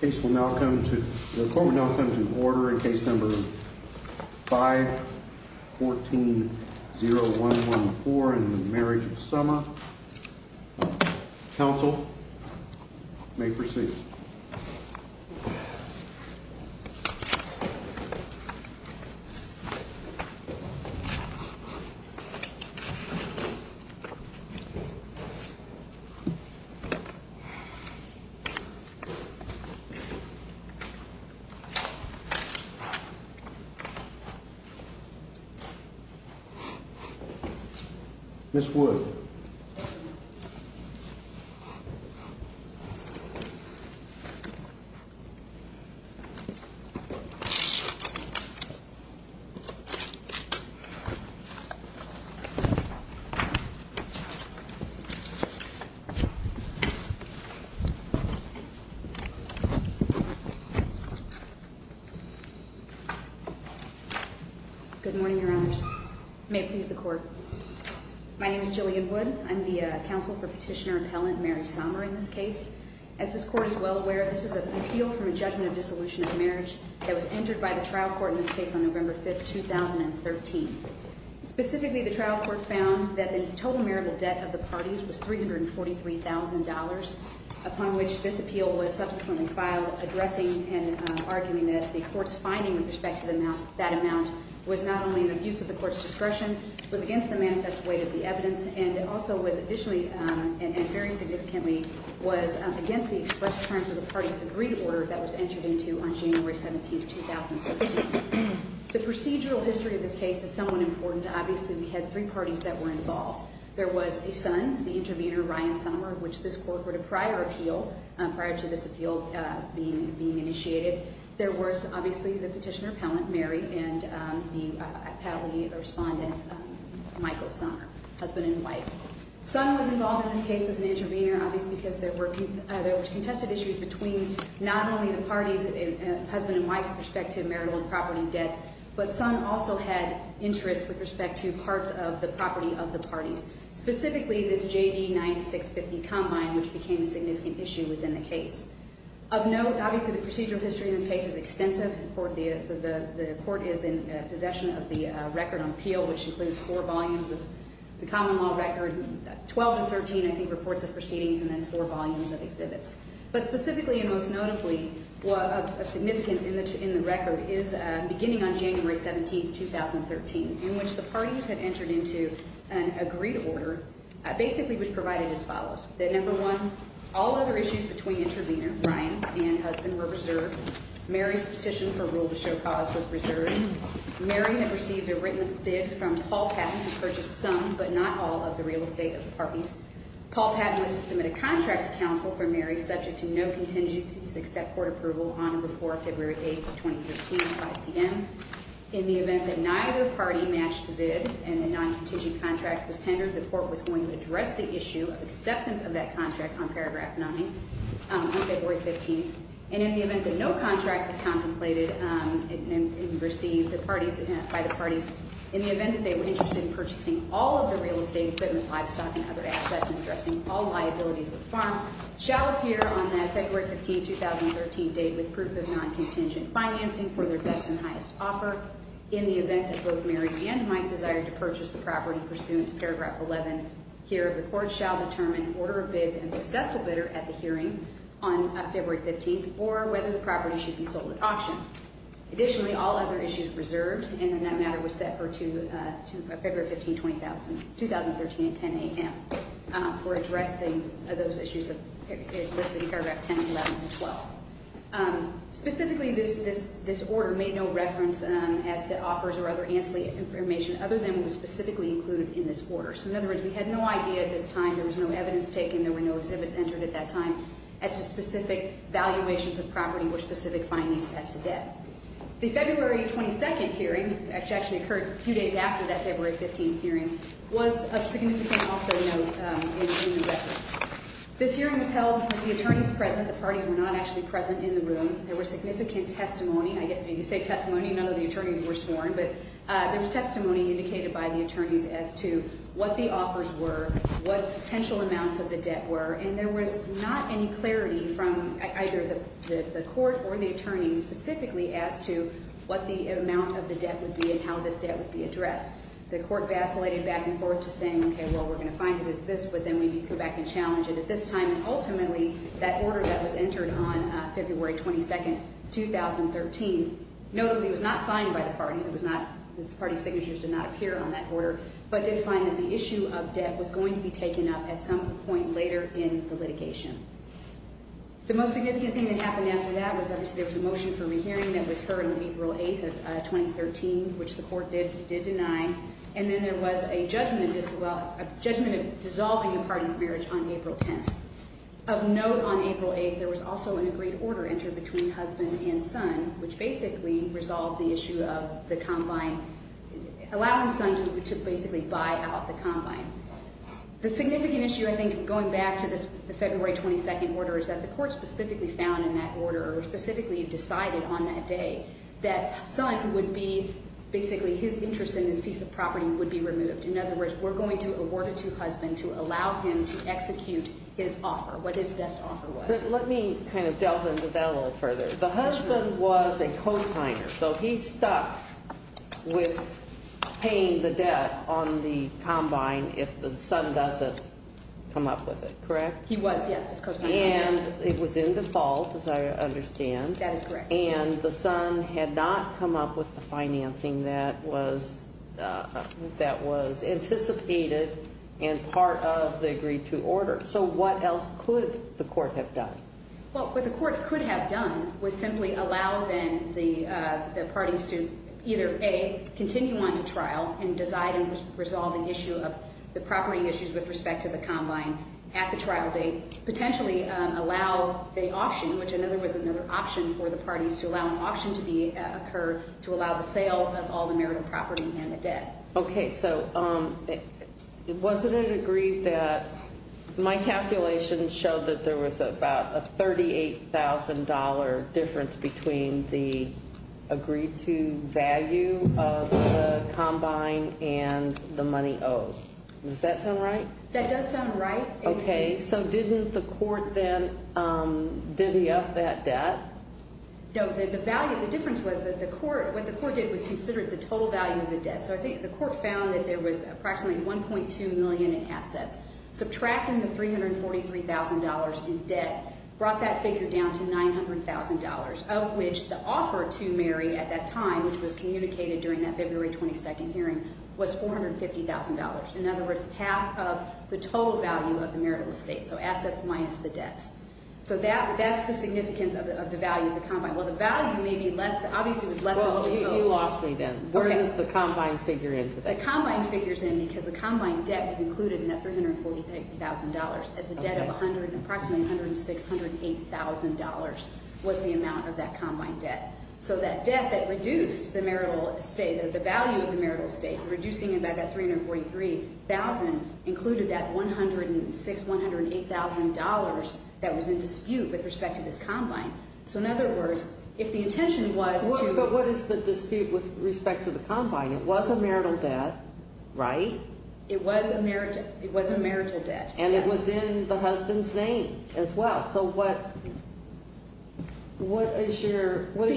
Case will now come to, the court will now come to order in case number 514-0114 in the Marriage of Sommer. Counsel may proceed. Ms. Wood. Good morning, Your Honors. May it please the court. My name is Jillian Wood. I'm the counsel for petitioner appellant Mary Sommer in this case. As this court is well aware, this is an appeal from a judgment of dissolution of marriage that was entered by the trial court in this case on November 5th, 2013. Specifically, the trial court found that the total marital debt of the parties was $343,000, upon which this appeal was subsequently filed, addressing and arguing that the court's finding with respect to that amount was not only an abuse of the court's discretion, was against the manifest weight of the evidence, and also was additionally, and very significantly, was against the express terms of the parties' agreed order that was entered into on January 17th, 2013. The procedural history of this case is somewhat important. Obviously, we had three parties that were involved. There was a son, the intervener, Ryan Sommer, of which this court heard a prior appeal, prior to this appeal being initiated. There was, obviously, the petitioner appellant, Mary, and the appellee respondent, Michael Sommer, husband and wife. But some also had interest with respect to parts of the property of the parties. Specifically, this JD 9650 combine, which became a significant issue within the case. Of note, obviously, the procedural history in this case is extensive. The court is in possession of the record on appeal, which includes four volumes of the common law record, 12 to 13, I think, reports of proceedings, and then four volumes of exhibits. But specifically, and most notably, of significance in the record is beginning on January 17th, 2013, in which the parties had entered into an agreed order, basically, which provided as follows. That number one, all other issues between intervener, Ryan, and husband were reserved. Mary's petition for rule to show cause was reserved. Mary had received a written bid from Paul Patton to purchase some, but not all, of the real estate of the parties. Paul Patton was to submit a contract to counsel for Mary, subject to no contingencies except court approval, on or before February 8th of 2013, 5 p.m. In the event that neither party matched the bid and a non-contingent contract was tendered, the court was going to address the issue of acceptance of that contract on paragraph 9 on February 15th. And in the event that no contract was contemplated and received by the parties, in the event that they were interested in purchasing all of the real estate, equipment, livestock, and other assets and addressing all liabilities of the farm, shall appear on the February 15th, 2013 date with proof of non-contingent financing for their best and highest offer. In the event that both Mary and Mike desired to purchase the property pursuant to paragraph 11 here, the court shall determine order of bids and successful bidder at the hearing on February 15th, or whether the property should be sold at auction. Additionally, all other issues reserved, and then that matter was set for February 15th, 2013 at 10 a.m., for addressing those issues listed in paragraph 10, 11, and 12. Specifically, this order made no reference as to offers or other ancillary information other than it was specifically included in this order. So in other words, we had no idea at this time, there was no evidence taken, there were no exhibits entered at that time as to specific valuations of property or specific findings as to debt. The February 22nd hearing, which actually occurred a few days after that February 15th hearing, was of significant also note in the record. This hearing was held with the attorneys present. The parties were not actually present in the room. There was significant testimony. I guess if you say testimony, none of the attorneys were sworn, but there was testimony indicated by the attorneys as to what the offers were, what potential amounts of the debt were, and there was not any clarity from either the court or the attorneys specifically as to what the amount of the debt would be and how this debt would be addressed. The court vacillated back and forth to saying, okay, well, we're going to find it as this, but then we need to go back and challenge it at this time. And ultimately, that order that was entered on February 22nd, 2013, notably was not signed by the parties. It was not, the party signatures did not appear on that order, but did find that the issue of debt was going to be taken up at some point later in the litigation. The most significant thing that happened after that was obviously there was a motion for rehearing that was heard on April 8th of 2013, which the court did deny, and then there was a judgment of dissolving the parties' marriage on April 10th. Of note on April 8th, there was also an agreed order entered between husband and son, which basically resolved the issue of the combine, allowing son to basically buy out the combine. The significant issue, I think, going back to the February 22nd order, is that the court specifically found in that order, or specifically decided on that day, that son would be, basically his interest in this piece of property would be removed. In other words, we're going to award it to husband to allow him to execute his offer, what his best offer was. But let me kind of delve into that a little further. The husband was a cosigner, so he stuck with paying the debt on the combine if the son doesn't come up with it, correct? He was, yes. And it was in default, as I understand. That is correct. And the son had not come up with the financing that was anticipated and part of the agreed-to order. So what else could the court have done? Well, what the court could have done was simply allow, then, the parties to either, A, continue on to trial and decide and resolve the issue of the property issues with respect to the combine at the trial date, potentially allow the auction, which I know there was another option for the parties, to allow an auction to occur to allow the sale of all the merited property and the debt. Okay, so wasn't it agreed that my calculations showed that there was about a $38,000 difference between the agreed-to value of the combine and the money owed. Does that sound right? That does sound right. Okay, so didn't the court, then, divvy up that debt? No, the value, the difference was that the court, what the court did was consider the total value of the debt. So I think the court found that there was approximately $1.2 million in assets. Subtracting the $343,000 in debt brought that figure down to $900,000, of which the offer to marry at that time, which was communicated during that February 22nd hearing, was $450,000. In other words, half of the total value of the marital estate, so assets minus the debts. So that's the significance of the value of the combine. Well, the value may be less, obviously it was less than the total. You lost me then. Where does the combine figure into that? The combine figures in because the combine debt was included in that $340,000. It's a debt of approximately $106,000, $108,000 was the amount of that combine debt. So that debt that reduced the marital estate, the value of the marital estate, reducing it by that $343,000, included that $106,000, $108,000 that was in dispute with respect to this combine. So in other words, if the intention was to— But what is the dispute with respect to the combine? It was a marital debt, right? It was a marital debt, yes. And it was in the husband's name as well. So what is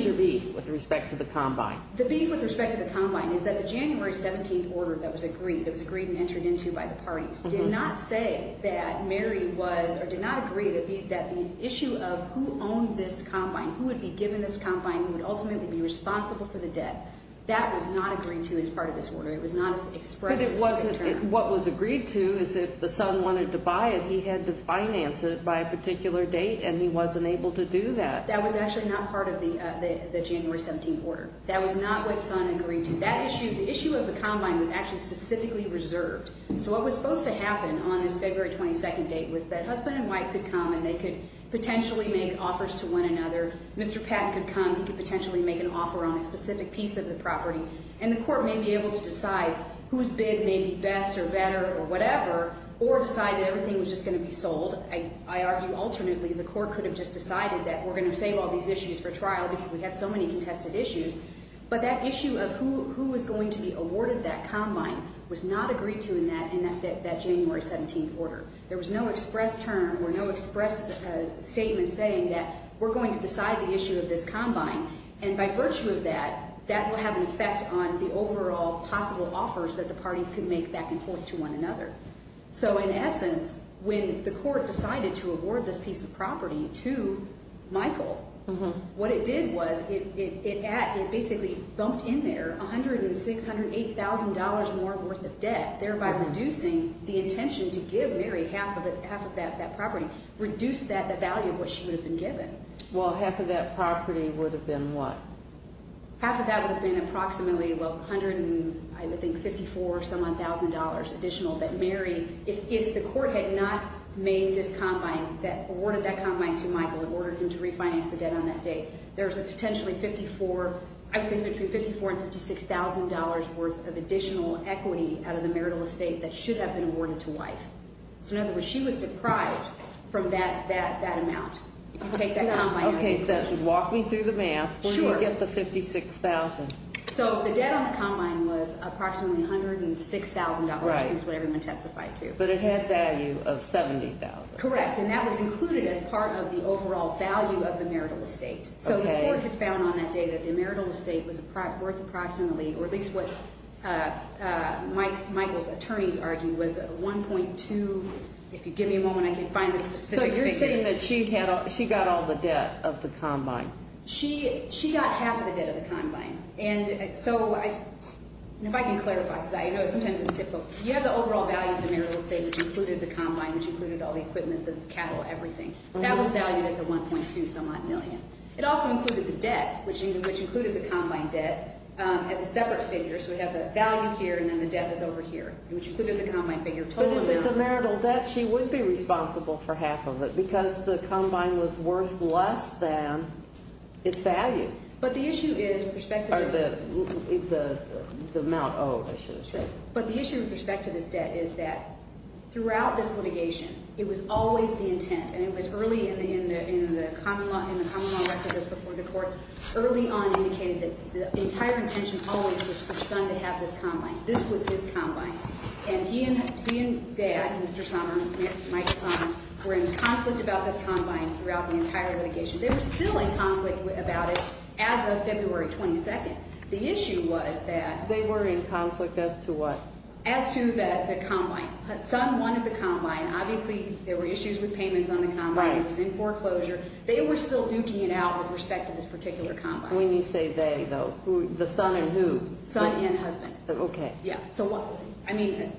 your beef with respect to the combine? The beef with respect to the combine is that the January 17th order that was agreed, that was agreed and entered into by the parties, did not say that Mary was, or did not agree that the issue of who owned this combine, who would be given this combine, who would ultimately be responsible for the debt, that was not agreed to as part of this order. It was not expressed. But it wasn't. What was agreed to is if the son wanted to buy it, he had to finance it by a particular date, and he wasn't able to do that. That was actually not part of the January 17th order. That was not what the son agreed to. That issue, the issue of the combine was actually specifically reserved. So what was supposed to happen on this February 22nd date was that husband and wife could come and they could potentially make offers to one another. Mr. Patton could come. He could potentially make an offer on a specific piece of the property. And the court may be able to decide whose bid may be best or better or whatever, or decide that everything was just going to be sold. I argue alternately the court could have just decided that we're going to save all these issues for trial because we have so many contested issues. But that issue of who was going to be awarded that combine was not agreed to in that January 17th order. There was no express term or no express statement saying that we're going to decide the issue of this combine. And by virtue of that, that will have an effect on the overall possible offers that the parties could make back and forth to one another. So in essence, when the court decided to award this piece of property to Michael, what it did was it basically bumped in there $106,000, $108,000 more worth of debt, thereby reducing the intention to give Mary half of that property, reduced the value of what she would have been given. Well, half of that property would have been what? Half of that would have been approximately, well, $154,000-some-odd additional that Mary, if the court had not made this combine, awarded that combine to Michael, ordered him to refinance the debt on that date. There's a potentially $54,000, I would say between $54,000 and $56,000 worth of additional equity out of the marital estate that should have been awarded to wife. So in other words, she was deprived from that amount. Okay, walk me through the math. When did you get the $56,000? So the debt on the combine was approximately $106,000, which is what everyone testified to. But it had value of $70,000. Correct, and that was included as part of the overall value of the marital estate. So the court had found on that date that the marital estate was worth approximately, or at least what Michael's attorneys argued, was $1.2. If you give me a moment, I can find the specific figure. So you're saying that she got all the debt of the combine. She got half of the debt of the combine. And so if I can clarify, because I know sometimes it's difficult. Which included all the equipment, the cattle, everything. That was valued at the $1.2-some-odd million. It also included the debt, which included the combine debt as a separate figure. So we have the value here and then the debt is over here, which included the combine figure. But if it's a marital debt, she would be responsible for half of it because the combine was worth less than its value. But the issue with respect to this debt is that throughout this litigation, it was always the intent, and it was early in the common law record that was before the court, early on indicated that the entire intention always was for Son to have this combine. This was his combine. And he and Dad, Mr. Sommer, Michael Sommer, were in conflict about this combine throughout the entire litigation. They were still in conflict about it as of February 22nd. The issue was that. They were in conflict as to what? As to the combine. Son wanted the combine. Obviously, there were issues with payments on the combine. It was in foreclosure. They were still duking it out with respect to this particular combine. When you say they, though, the son and who? Son and husband. Okay. Yeah. I mean,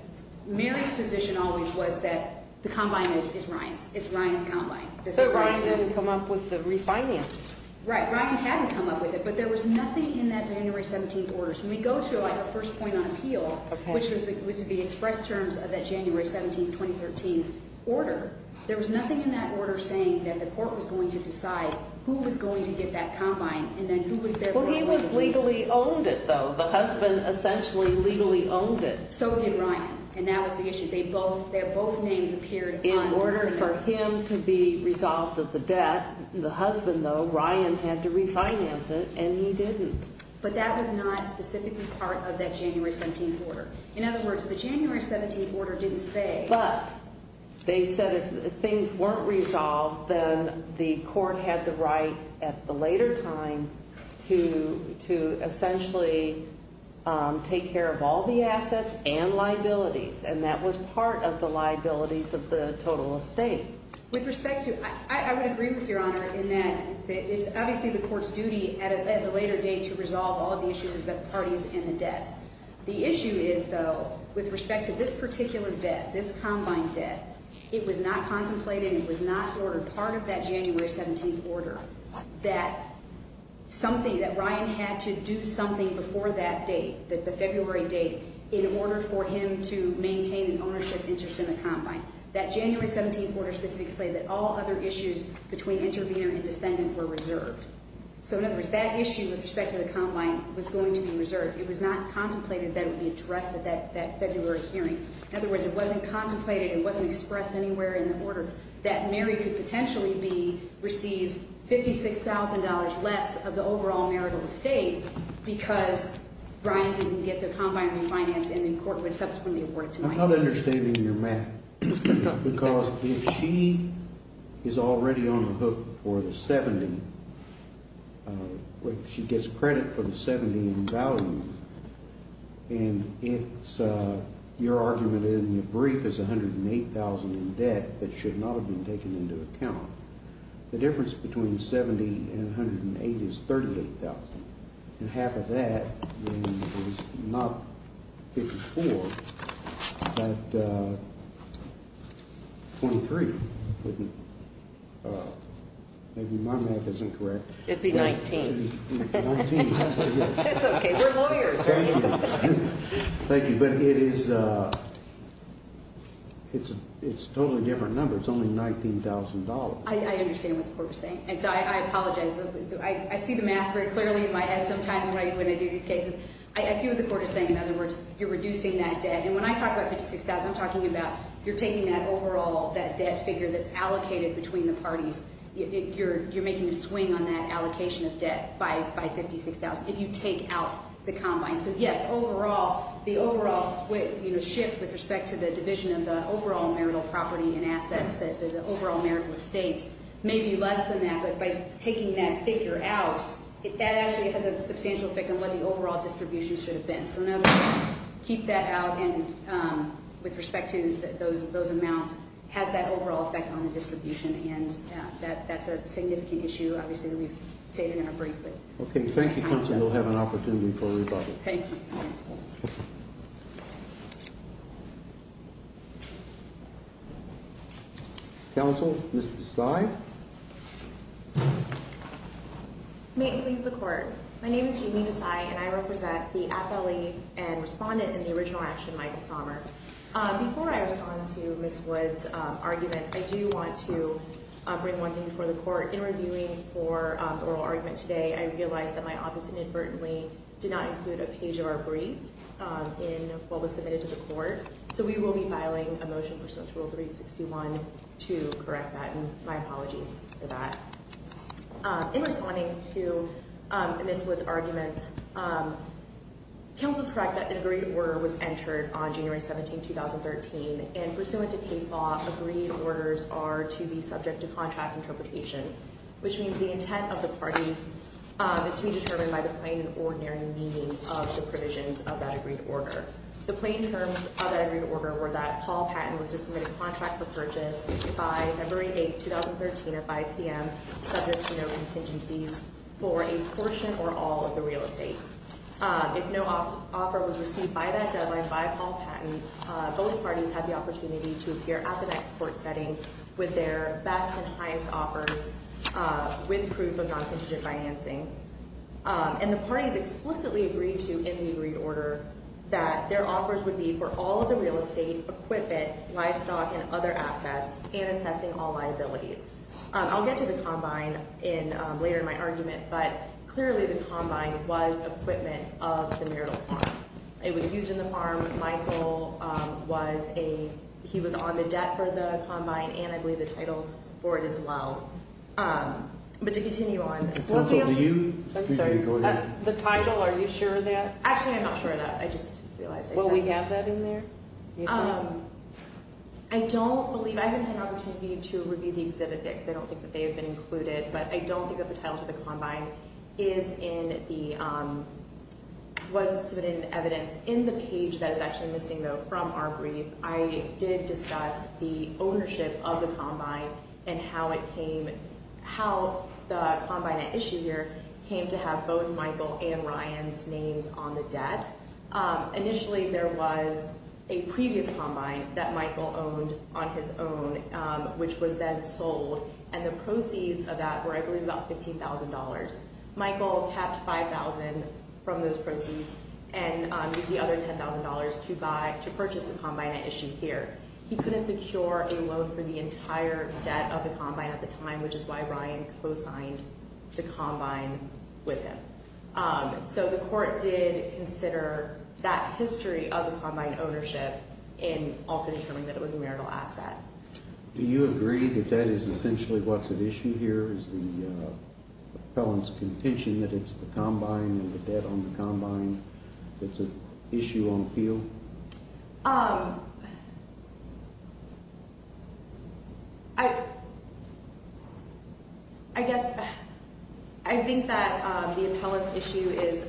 Mary's position always was that the combine is Ryan's. It's Ryan's combine. So Ryan didn't come up with the refinance? Right. Ryan hadn't come up with it, but there was nothing in that January 17th order. So when we go to our first point on appeal, which was the express terms of that January 17th, 2013 order, there was nothing in that order saying that the court was going to decide who was going to get that combine and then who was going to get it. Well, he was legally owned it, though. The husband essentially legally owned it. So did Ryan, and that was the issue. Their both names appeared on the order. In order for him to be resolved of the debt, the husband, though, Ryan had to refinance it, and he didn't. But that was not specifically part of that January 17th order. In other words, the January 17th order didn't say. But they said if things weren't resolved, then the court had the right at the later time to essentially take care of all the assets and liabilities, and that was part of the liabilities of the total estate. With respect to – I would agree with Your Honor in that it's obviously the parties and the debts. The issue is, though, with respect to this particular debt, this combine debt, it was not contemplated and it was not part of that January 17th order that something – that Ryan had to do something before that date, the February date, in order for him to maintain an ownership interest in the combine. That January 17th order specifically stated that all other issues between intervener and defendant were reserved. So, in other words, that issue with respect to the combine was going to be reserved. It was not contemplated that it would be addressed at that February hearing. In other words, it wasn't contemplated, it wasn't expressed anywhere in the order that Mary could potentially receive $56,000 less of the overall marital estate because Ryan didn't get the combine refinance, and the court would subsequently award it to Mike. I'm not understanding your math, because if she is already on the hook for the $70,000, she gets credit for the $70,000 in value, and it's – your argument in the brief is $108,000 in debt that should not have been taken into account. The difference between $70,000 and $108,000 is $38,000, and half of that is not $54,000, but $23,000. Maybe my math is incorrect. It would be $19,000. $19,000. That's okay. We're lawyers, right? Thank you. Thank you, but it is a totally different number. It's only $19,000. I understand what the court is saying, and so I apologize. I see the math very clearly in my head sometimes when I do these cases. I see what the court is saying. In other words, you're reducing that debt, and when I talk about $56,000, I'm talking about you're taking that overall debt figure that's allocated between the parties. You're making a swing on that allocation of debt by $56,000 if you take out the combine. So, yes, the overall shift with respect to the division of the overall marital property and assets, the overall marital estate, may be less than that, but by taking that figure out, that actually has a substantial effect on what the overall distribution should have been. So in other words, keep that out, and with respect to those amounts, has that overall effect on the distribution, and that's a significant issue, obviously, that we've stated in our brief. Okay. Thank you, counsel. We'll have an opportunity for a rebuttal. Thank you. Thank you. Counsel, Ms. Desai? May it please the court. My name is Jamie Desai, and I represent the affiliate and respondent in the original action, Michael Sommer. Before I respond to Ms. Wood's arguments, I do want to bring one thing before the court. In reviewing for the oral argument today, I realized that my office inadvertently did not include a page of our brief in what was submitted to the court, so we will be filing a motion pursuant to Rule 361 to correct that, and my apologies for that. In responding to Ms. Wood's argument, counsel is correct that an agreed order was entered on January 17, 2013, and pursuant to case law, agreed orders are to be subject to contract interpretation, which means the intent of the parties is to be determined by the plain and ordinary meaning of the provisions of that agreed order. The plain terms of that agreed order were that Paul Patton was to submit a contract for purchase by February 8, 2013, at 5 p.m., subject to no contingencies for a portion or all of the real estate. If no offer was received by that deadline by Paul Patton, both parties have the opportunity to appear at the next court setting with their best and highest offers with proof of non-contingent financing, and the parties explicitly agreed to in the agreed order that their offers would be for all of the real estate, equipment, livestock, and other assets, and assessing all liabilities. I'll get to the combine later in my argument, but clearly the combine was equipment of the marital farm. It was used in the farm. Michael was a, he was on the debt for the combine, and I believe the title for it as well. But to continue on. The title, are you sure of that? Actually, I'm not sure of that. I just realized I said that. Will we have that in there? I don't believe, I haven't had an opportunity to review the exhibits yet because I don't think that they have been included, but I don't think that the title to the combine is in the, was submitted in evidence. In the page that is actually missing, though, from our brief, I did discuss the ownership of the combine and how it came, how the combine at issue here came to have both Michael and Ryan's names on the debt. Initially there was a previous combine that Michael owned on his own, which was then sold, and the proceeds of that were, I believe, about $15,000. Michael kept $5,000 from those proceeds and used the other $10,000 to buy, to purchase the combine at issue here. He couldn't secure a loan for the entire debt of the combine at the time, which is why Ryan co-signed the combine with him. So the court did consider that history of the combine ownership and also determined that it was a marital asset. Do you agree that that is essentially what's at issue here, is the appellant's contention that it's the combine and the debt on the combine that's at issue on appeal? I guess I think that the appellant's issue is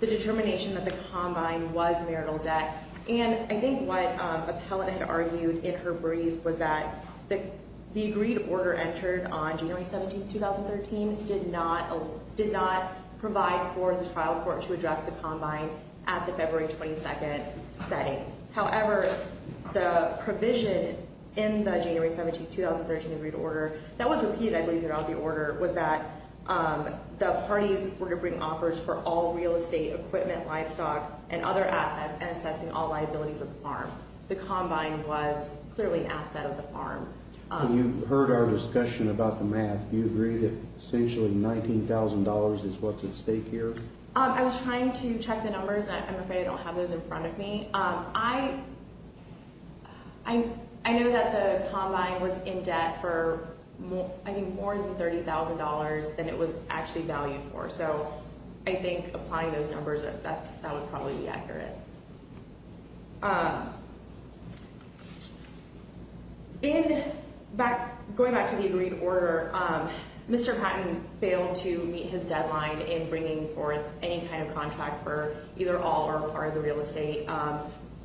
the determination that the combine was marital debt, and I think what the appellant had argued in her brief was that the agreed order entered on January 17, 2013, did not provide for the trial court to address the combine at the February 22nd setting. However, the provision in the January 17, 2013, agreed order that was repeated, I believe, throughout the order was that the parties were to bring offers for all real estate, equipment, livestock, and other assets and assessing all liabilities of the farm. The combine was clearly an asset of the farm. You heard our discussion about the math. Do you agree that essentially $19,000 is what's at stake here? I was trying to check the numbers. I'm afraid I don't have those in front of me. I know that the combine was in debt for, I think, more than $30,000 than it was actually valued for. So I think applying those numbers, that would probably be accurate. Going back to the agreed order, Mr. Patton failed to meet his deadline in bringing forth any kind of contract for either all or part of the real estate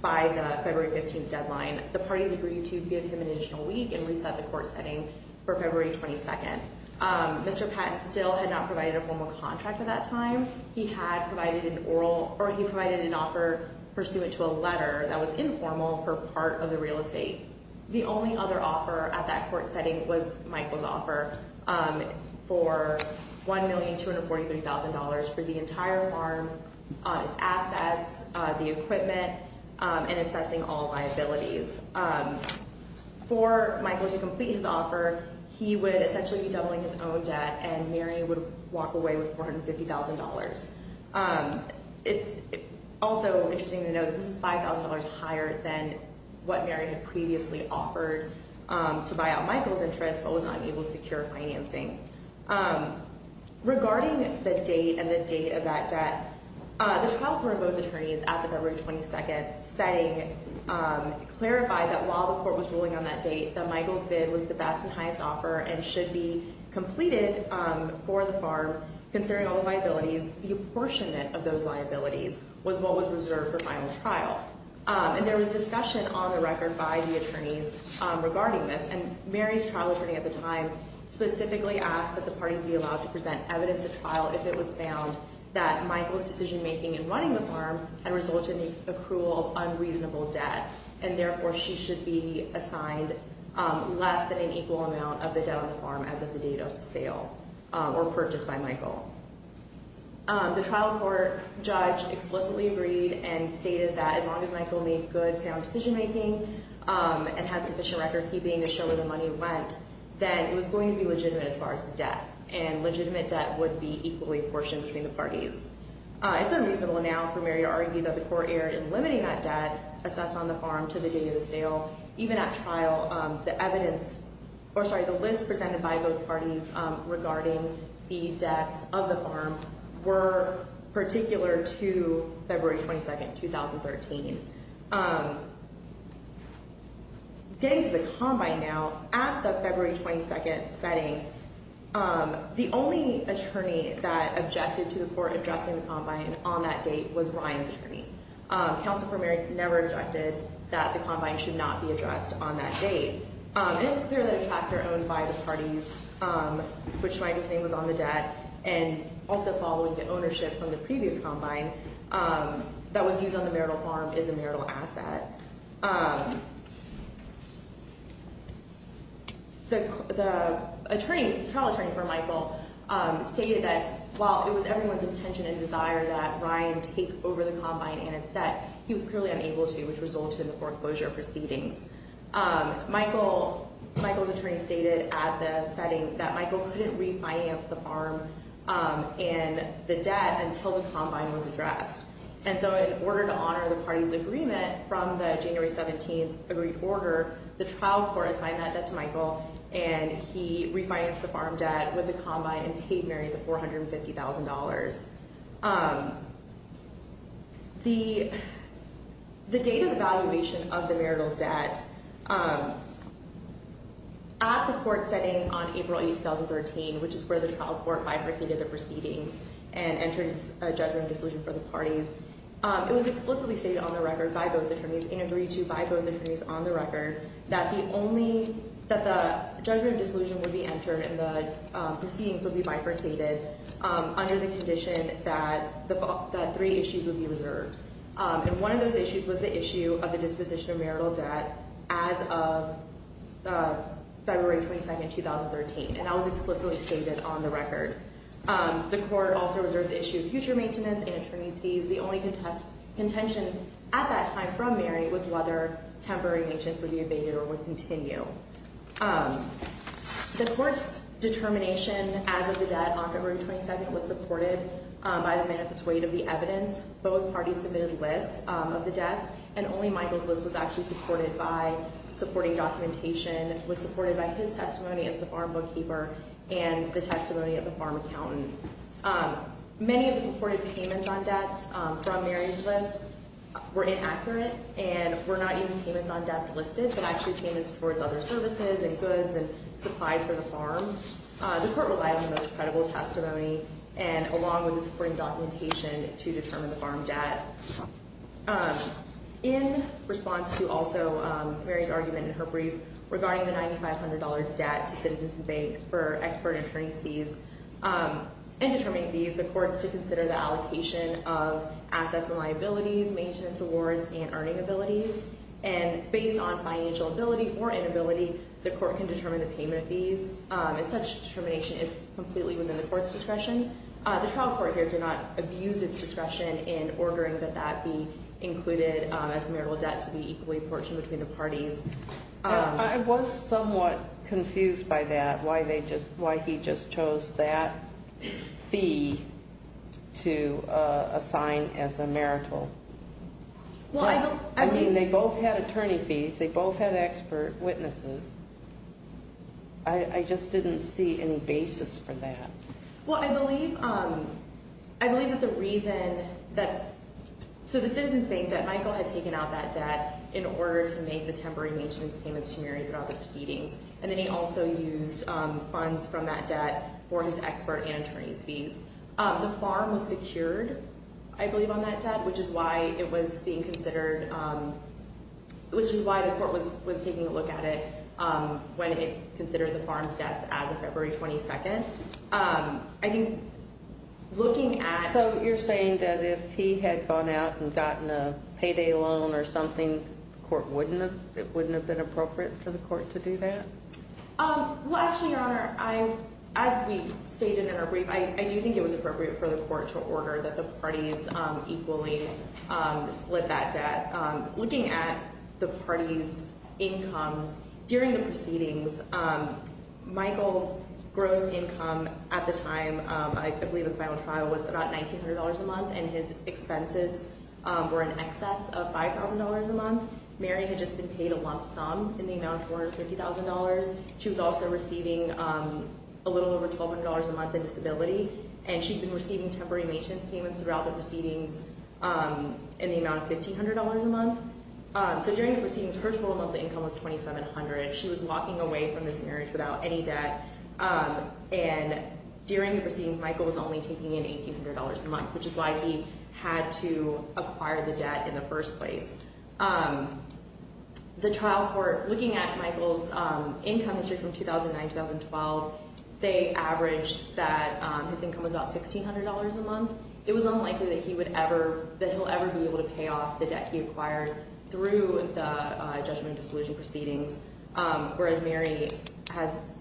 by the February 15 deadline. The parties agreed to give him an additional week and reset the court setting for February 22nd. Mr. Patton still had not provided a formal contract at that time. He had provided an offer pursuant to a letter that was informal for part of the real estate. The only other offer at that court setting was Michael's offer for $1,243,000 for the entire farm, its assets, the equipment, and assessing all liabilities. For Michael to complete his offer, he would essentially be doubling his own debt and Mary would walk away with $450,000. It's also interesting to note that this is $5,000 higher than what Mary had previously offered to buy out Michael's interest but was unable to secure financing. Regarding the date and the date of that debt, the trial court of both attorneys at the February 22nd setting clarified that while the court was ruling on that date that Michael's bid was the best and highest offer and should be completed for the farm considering all the liabilities, the apportionment of those liabilities was what was reserved for final trial. There was discussion on the record by the attorneys regarding this. Mary's trial attorney at the time specifically asked that the parties be allowed to present evidence at trial if it was found that Michael's decision-making in running the farm had resulted in the accrual of unreasonable debt and, therefore, she should be assigned less than an equal amount of the debt on the farm as of the date of the sale or purchase by Michael. The trial court judge explicitly agreed and stated that as long as Michael made good, sound decision-making and had sufficient record-keeping to show where the money went, then it was going to be legitimate as far as the debt and legitimate debt would be equally apportioned between the parties. It's unreasonable now for Mary to argue that the court erred in limiting that debt assessed on the farm to the date of the sale. Even at trial, the list presented by both parties regarding the debts of the farm were particular to February 22nd, 2013. Getting to the combine now, at the February 22nd setting, the only attorney that objected to the court addressing the combine on that date was Ryan's attorney. Counsel for Mary never objected that the combine should not be addressed on that date. It's clear that a tractor owned by the parties, which Michael's name was on the debt, and also following the ownership from the previous combine that was used on the marital farm is a marital asset. The trial attorney for Michael stated that while it was everyone's intention and desire that Ryan take over the combine and its debt, he was clearly unable to, which resulted in the foreclosure proceedings. Michael's attorney stated at the setting that Michael couldn't refinance the farm and the debt until the combine was addressed. In order to honor the parties' agreement from the January 17th agreed order, the trial court assigned that debt to Michael, and he refinanced the farm debt with the combine and paid Mary the $450,000. The date of the valuation of the marital debt at the court setting on April 8th, 2013, which is where the trial court bifurcated the proceedings and entered a judgment of disillusion for the parties, it was explicitly stated on the record by both attorneys, in agree to by both attorneys on the record, that the judgment of disillusion would be entered and the proceedings would be bifurcated under the condition that three issues would be reserved. And one of those issues was the issue of the disposition of marital debt as of February 22nd, 2013, and that was explicitly stated on the record. The court also reserved the issue of future maintenance and attorney's fees. The only contention at that time from Mary was whether temporary maintenance would be evaded or would continue. The court's determination as of the debt on February 22nd was supported by the manifest weight of the evidence. Both parties submitted lists of the debts, and only Michael's list was actually supported by supporting documentation, was supported by his testimony as the farm bookkeeper and the testimony of the farm accountant. Many of the reported payments on debts from Mary's list were inaccurate and were not even payments on debts listed but actually payments towards other services and goods and supplies for the farm. The court relied on the most credible testimony and along with the supporting documentation to determine the farm debt. In response to also Mary's argument in her brief regarding the $9,500 debt to Citizens Bank for expert attorney's fees and determining fees, the courts did consider the allocation of assets and liabilities, maintenance awards, and earning abilities. And based on financial ability or inability, the court can determine the payment of fees, and such determination is completely within the court's discretion. The trial court here did not abuse its discretion in ordering that that be included as marital debt to be equally apportioned between the parties. I was somewhat confused by that, why he just chose that fee to assign as a marital debt. I mean, they both had attorney fees, they both had expert witnesses. I just didn't see any basis for that. Well, I believe that the reason that, so the Citizens Bank debt, Michael had taken out that debt in order to make the temporary maintenance payments to Mary throughout the proceedings. And then he also used funds from that debt for his expert and attorney's fees. The farm was secured, I believe on that debt, which is why it was being considered, which is why the court was taking a look at it when it considered the farm's debts as of February 22nd. I think looking at... So you're saying that if he had gone out and gotten a payday loan or something, the court wouldn't have, it wouldn't have been appropriate for the court to do that? Well, actually, Your Honor, as we stated in our brief, I do think it was appropriate for the court to order that the parties equally split that debt. Looking at the parties' incomes during the proceedings, Michael's gross income at the time, I believe the final trial was about $1,900 a month, and his expenses were in excess of $5,000 a month. Mary had just been paid a lump sum in the amount of $450,000. She was also receiving a little over $1,200 a month in disability, and she'd been receiving temporary maintenance payments throughout the proceedings in the amount of $1,500 a month. So during the proceedings, her total monthly income was $2,700. She was walking away from this marriage without any debt, and during the proceedings, Michael was only taking in $1,800 a month, which is why he had to acquire the debt in the first place. The trial court, looking at Michael's income history from 2009-2012, they averaged that his income was about $1,600 a month. It was unlikely that he would ever be able to pay off the debt he acquired through the judgment and disillusion proceedings, whereas Mary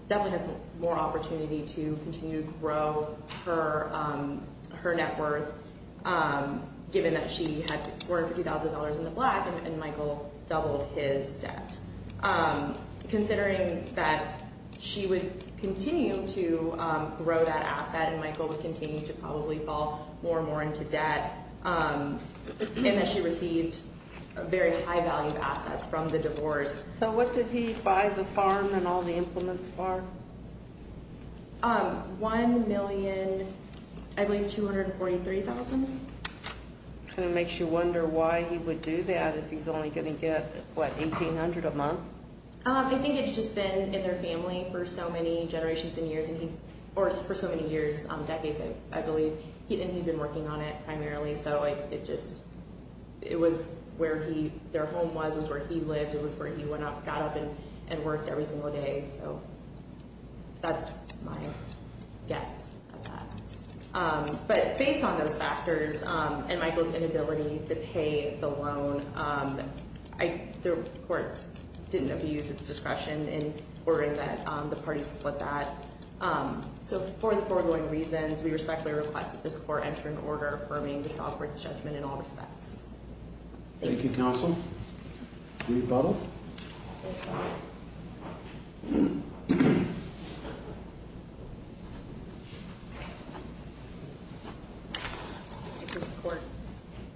definitely has more opportunity to continue to grow her net worth, given that she had $450,000 in the black, and Michael doubled his debt. Considering that she would continue to grow that asset, and Michael would continue to probably fall more and more into debt, and that she received very high-value assets from the divorce. So what did he buy the farm and all the implements for? $1,000,000, I believe $243,000. Kind of makes you wonder why he would do that if he's only going to get, what, $1,800 a month? I think it's just been in their family for so many generations and years, or for so many years, decades, I believe. He didn't even work on it primarily, so it was where their home was, it was where he lived, it was where he got up and worked every single day. So that's my guess at that. But based on those factors and Michael's inability to pay the loan, the court didn't abuse its discretion in ordering that the parties split that. So for the foregoing reasons, we respectfully request that this court enter an order affirming the trial court's judgment in all respects. Thank you, counsel. Do we have a follow-up? I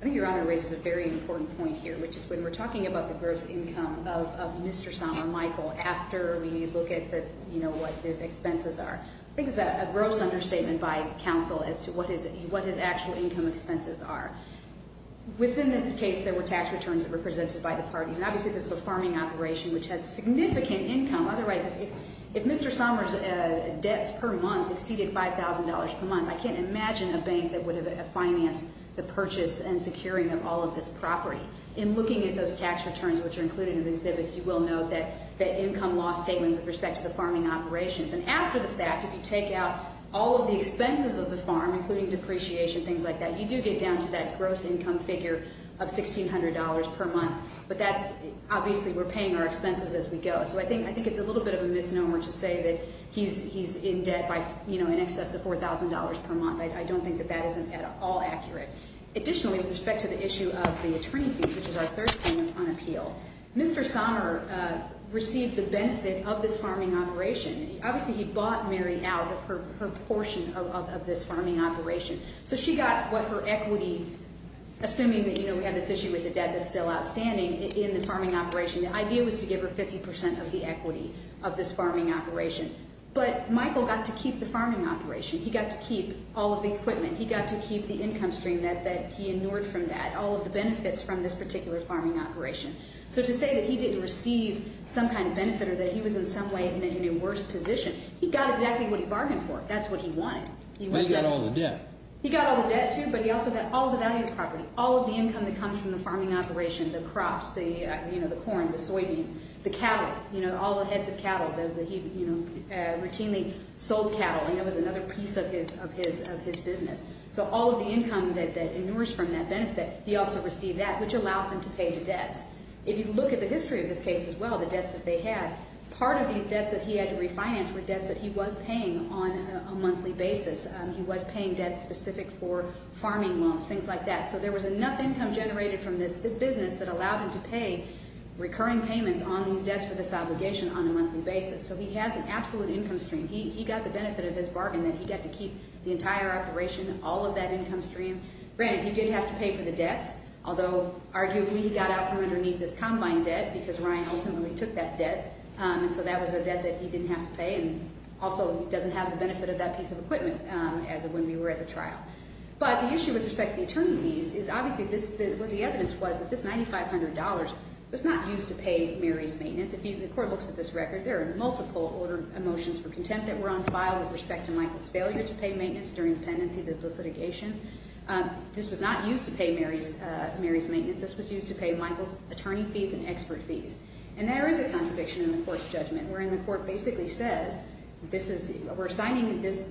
think Your Honor raises a very important point here, which is when we're talking about the gross income of Mr. Sommer, Michael, after we look at what his expenses are, I think it's a gross understatement by counsel as to what his actual income expenses are. Within this case, there were tax returns that were presented by the parties, and obviously this is a farming operation, which has significant income. Otherwise, if Mr. Sommer's debts per month exceeded $5,000 per month, I can't imagine a bank that would have financed the purchase and securing of all of this property. In looking at those tax returns, which are included in the exhibits, you will note that income loss statement with respect to the farming operations. And after the fact, if you take out all of the expenses of the farm, including depreciation, things like that, you do get down to that gross income figure of $1,600 per month. But that's, obviously, we're paying our expenses as we go. So I think it's a little bit of a misnomer to say that he's in debt by, you know, in excess of $4,000 per month. I don't think that that is at all accurate. Additionally, with respect to the issue of the attorney fee, which is our third claim on appeal, Mr. Sommer received the benefit of this farming operation. Obviously, he bought Mary out of her portion of this farming operation. So she got what her equity, assuming that, you know, we have this issue with the debt that's still outstanding in the farming operation. The idea was to give her 50% of the equity of this farming operation. But Michael got to keep the farming operation. He got to keep all of the equipment. He got to keep the income stream that he ignored from that, all of the benefits from this particular farming operation. So to say that he didn't receive some kind of benefit or that he was in some way in a worse position, he got exactly what he bargained for. That's what he wanted. He got all the debt. He got all the debt, too, but he also got all the value of the property, all of the income that comes from the farming operation, the crops, the, you know, the corn, the soybeans, the cattle, you know, all the heads of cattle that he, you know, routinely sold cattle. And that was another piece of his business. So all of the income that ignores from that benefit, he also received that, which allows him to pay the debts. If you look at the history of this case as well, the debts that they had, part of these debts that he had to refinance were debts that he was paying on a monthly basis. He was paying debts specific for farming loans, things like that. So there was enough income generated from this business that allowed him to pay recurring payments on these debts for this obligation on a monthly basis. So he has an absolute income stream. He got the benefit of his bargain that he got to keep the entire operation, all of that income stream. Granted, he did have to pay for the debts, although arguably he got out from underneath this combine debt, because Ryan ultimately took that debt, and so that was a debt that he didn't have to pay and also doesn't have the benefit of that piece of equipment as of when we were at the trial. But the issue with respect to the attorney fees is obviously what the evidence was that this $9,500 was not used to pay Mary's maintenance. If the court looks at this record, there are multiple motions for contempt that were on file with respect to Michael's failure to pay maintenance during the pendency, the litigation. This was not used to pay Mary's maintenance. This was used to pay Michael's attorney fees and expert fees. And there is a contradiction in the court's judgment, wherein the court basically says, we're assigning this,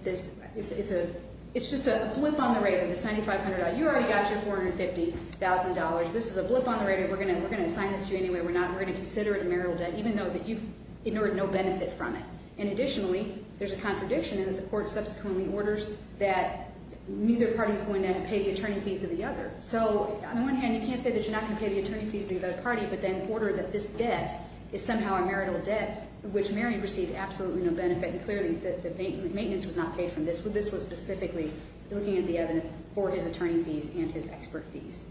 it's just a blip on the radar, the $9,500. You already got your $450,000. This is a blip on the radar. We're going to assign this to you anyway. We're not going to consider it a marital debt, even though you've ignored no benefit from it. And additionally, there's a contradiction in that the court subsequently orders that neither party is going to pay the attorney fees of the other. So on the one hand, you can't say that you're not going to pay the attorney fees of the other party, but then order that this debt is somehow a marital debt, which Mary received absolutely no benefit, and clearly the maintenance was not paid from this. This was specifically looking at the evidence for his attorney fees and his expert fees.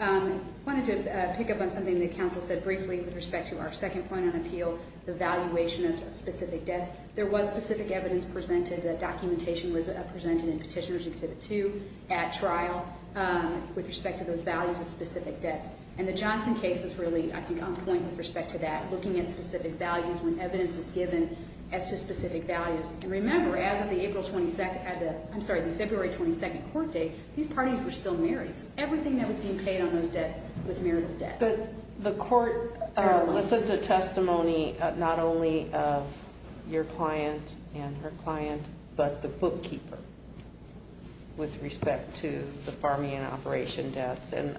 I wanted to pick up on something that counsel said briefly with respect to our second point on appeal, the valuation of specific debts. There was specific evidence presented. The documentation was presented in Petitioner's Exhibit 2 at trial with respect to those values of specific debts. And the Johnson case is really, I think, on point with respect to that, looking at specific values when evidence is given as to specific values. And remember, as of the February 22nd court date, these parties were still married, so everything that was being paid on those debts was marital debt. The court listened to testimony not only of your client and her client, but the bookkeeper with respect to the farming and operation debts. And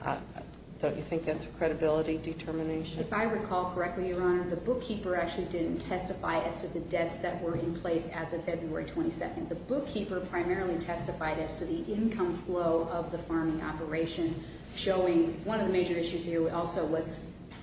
don't you think that's a credibility determination? If I recall correctly, Your Honor, the bookkeeper actually didn't testify as to the debts that were in place as of February 22nd. The bookkeeper primarily testified as to the income flow of the farming operation, showing one of the major issues here also was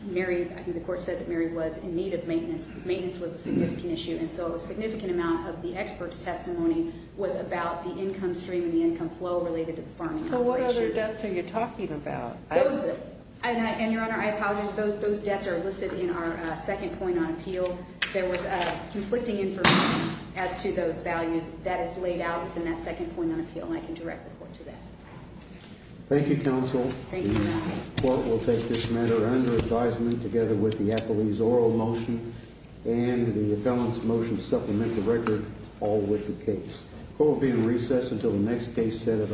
the court said that Mary was in need of maintenance. Maintenance was a significant issue, and so a significant amount of the expert's testimony was about the income stream and the income flow related to the farming operation. So what other debts are you talking about? And, Your Honor, I apologize. Those debts are listed in our second point on appeal. There was conflicting information as to those values. That is laid out in that second point on appeal, and I can direct the court to that. Thank you, counsel. Thank you, Your Honor. The court will take this matter under advisement together with the appellee's oral motion and the appellant's motion to supplement the record, all with the case. Court will be in recess until the next case set at 11. All rise.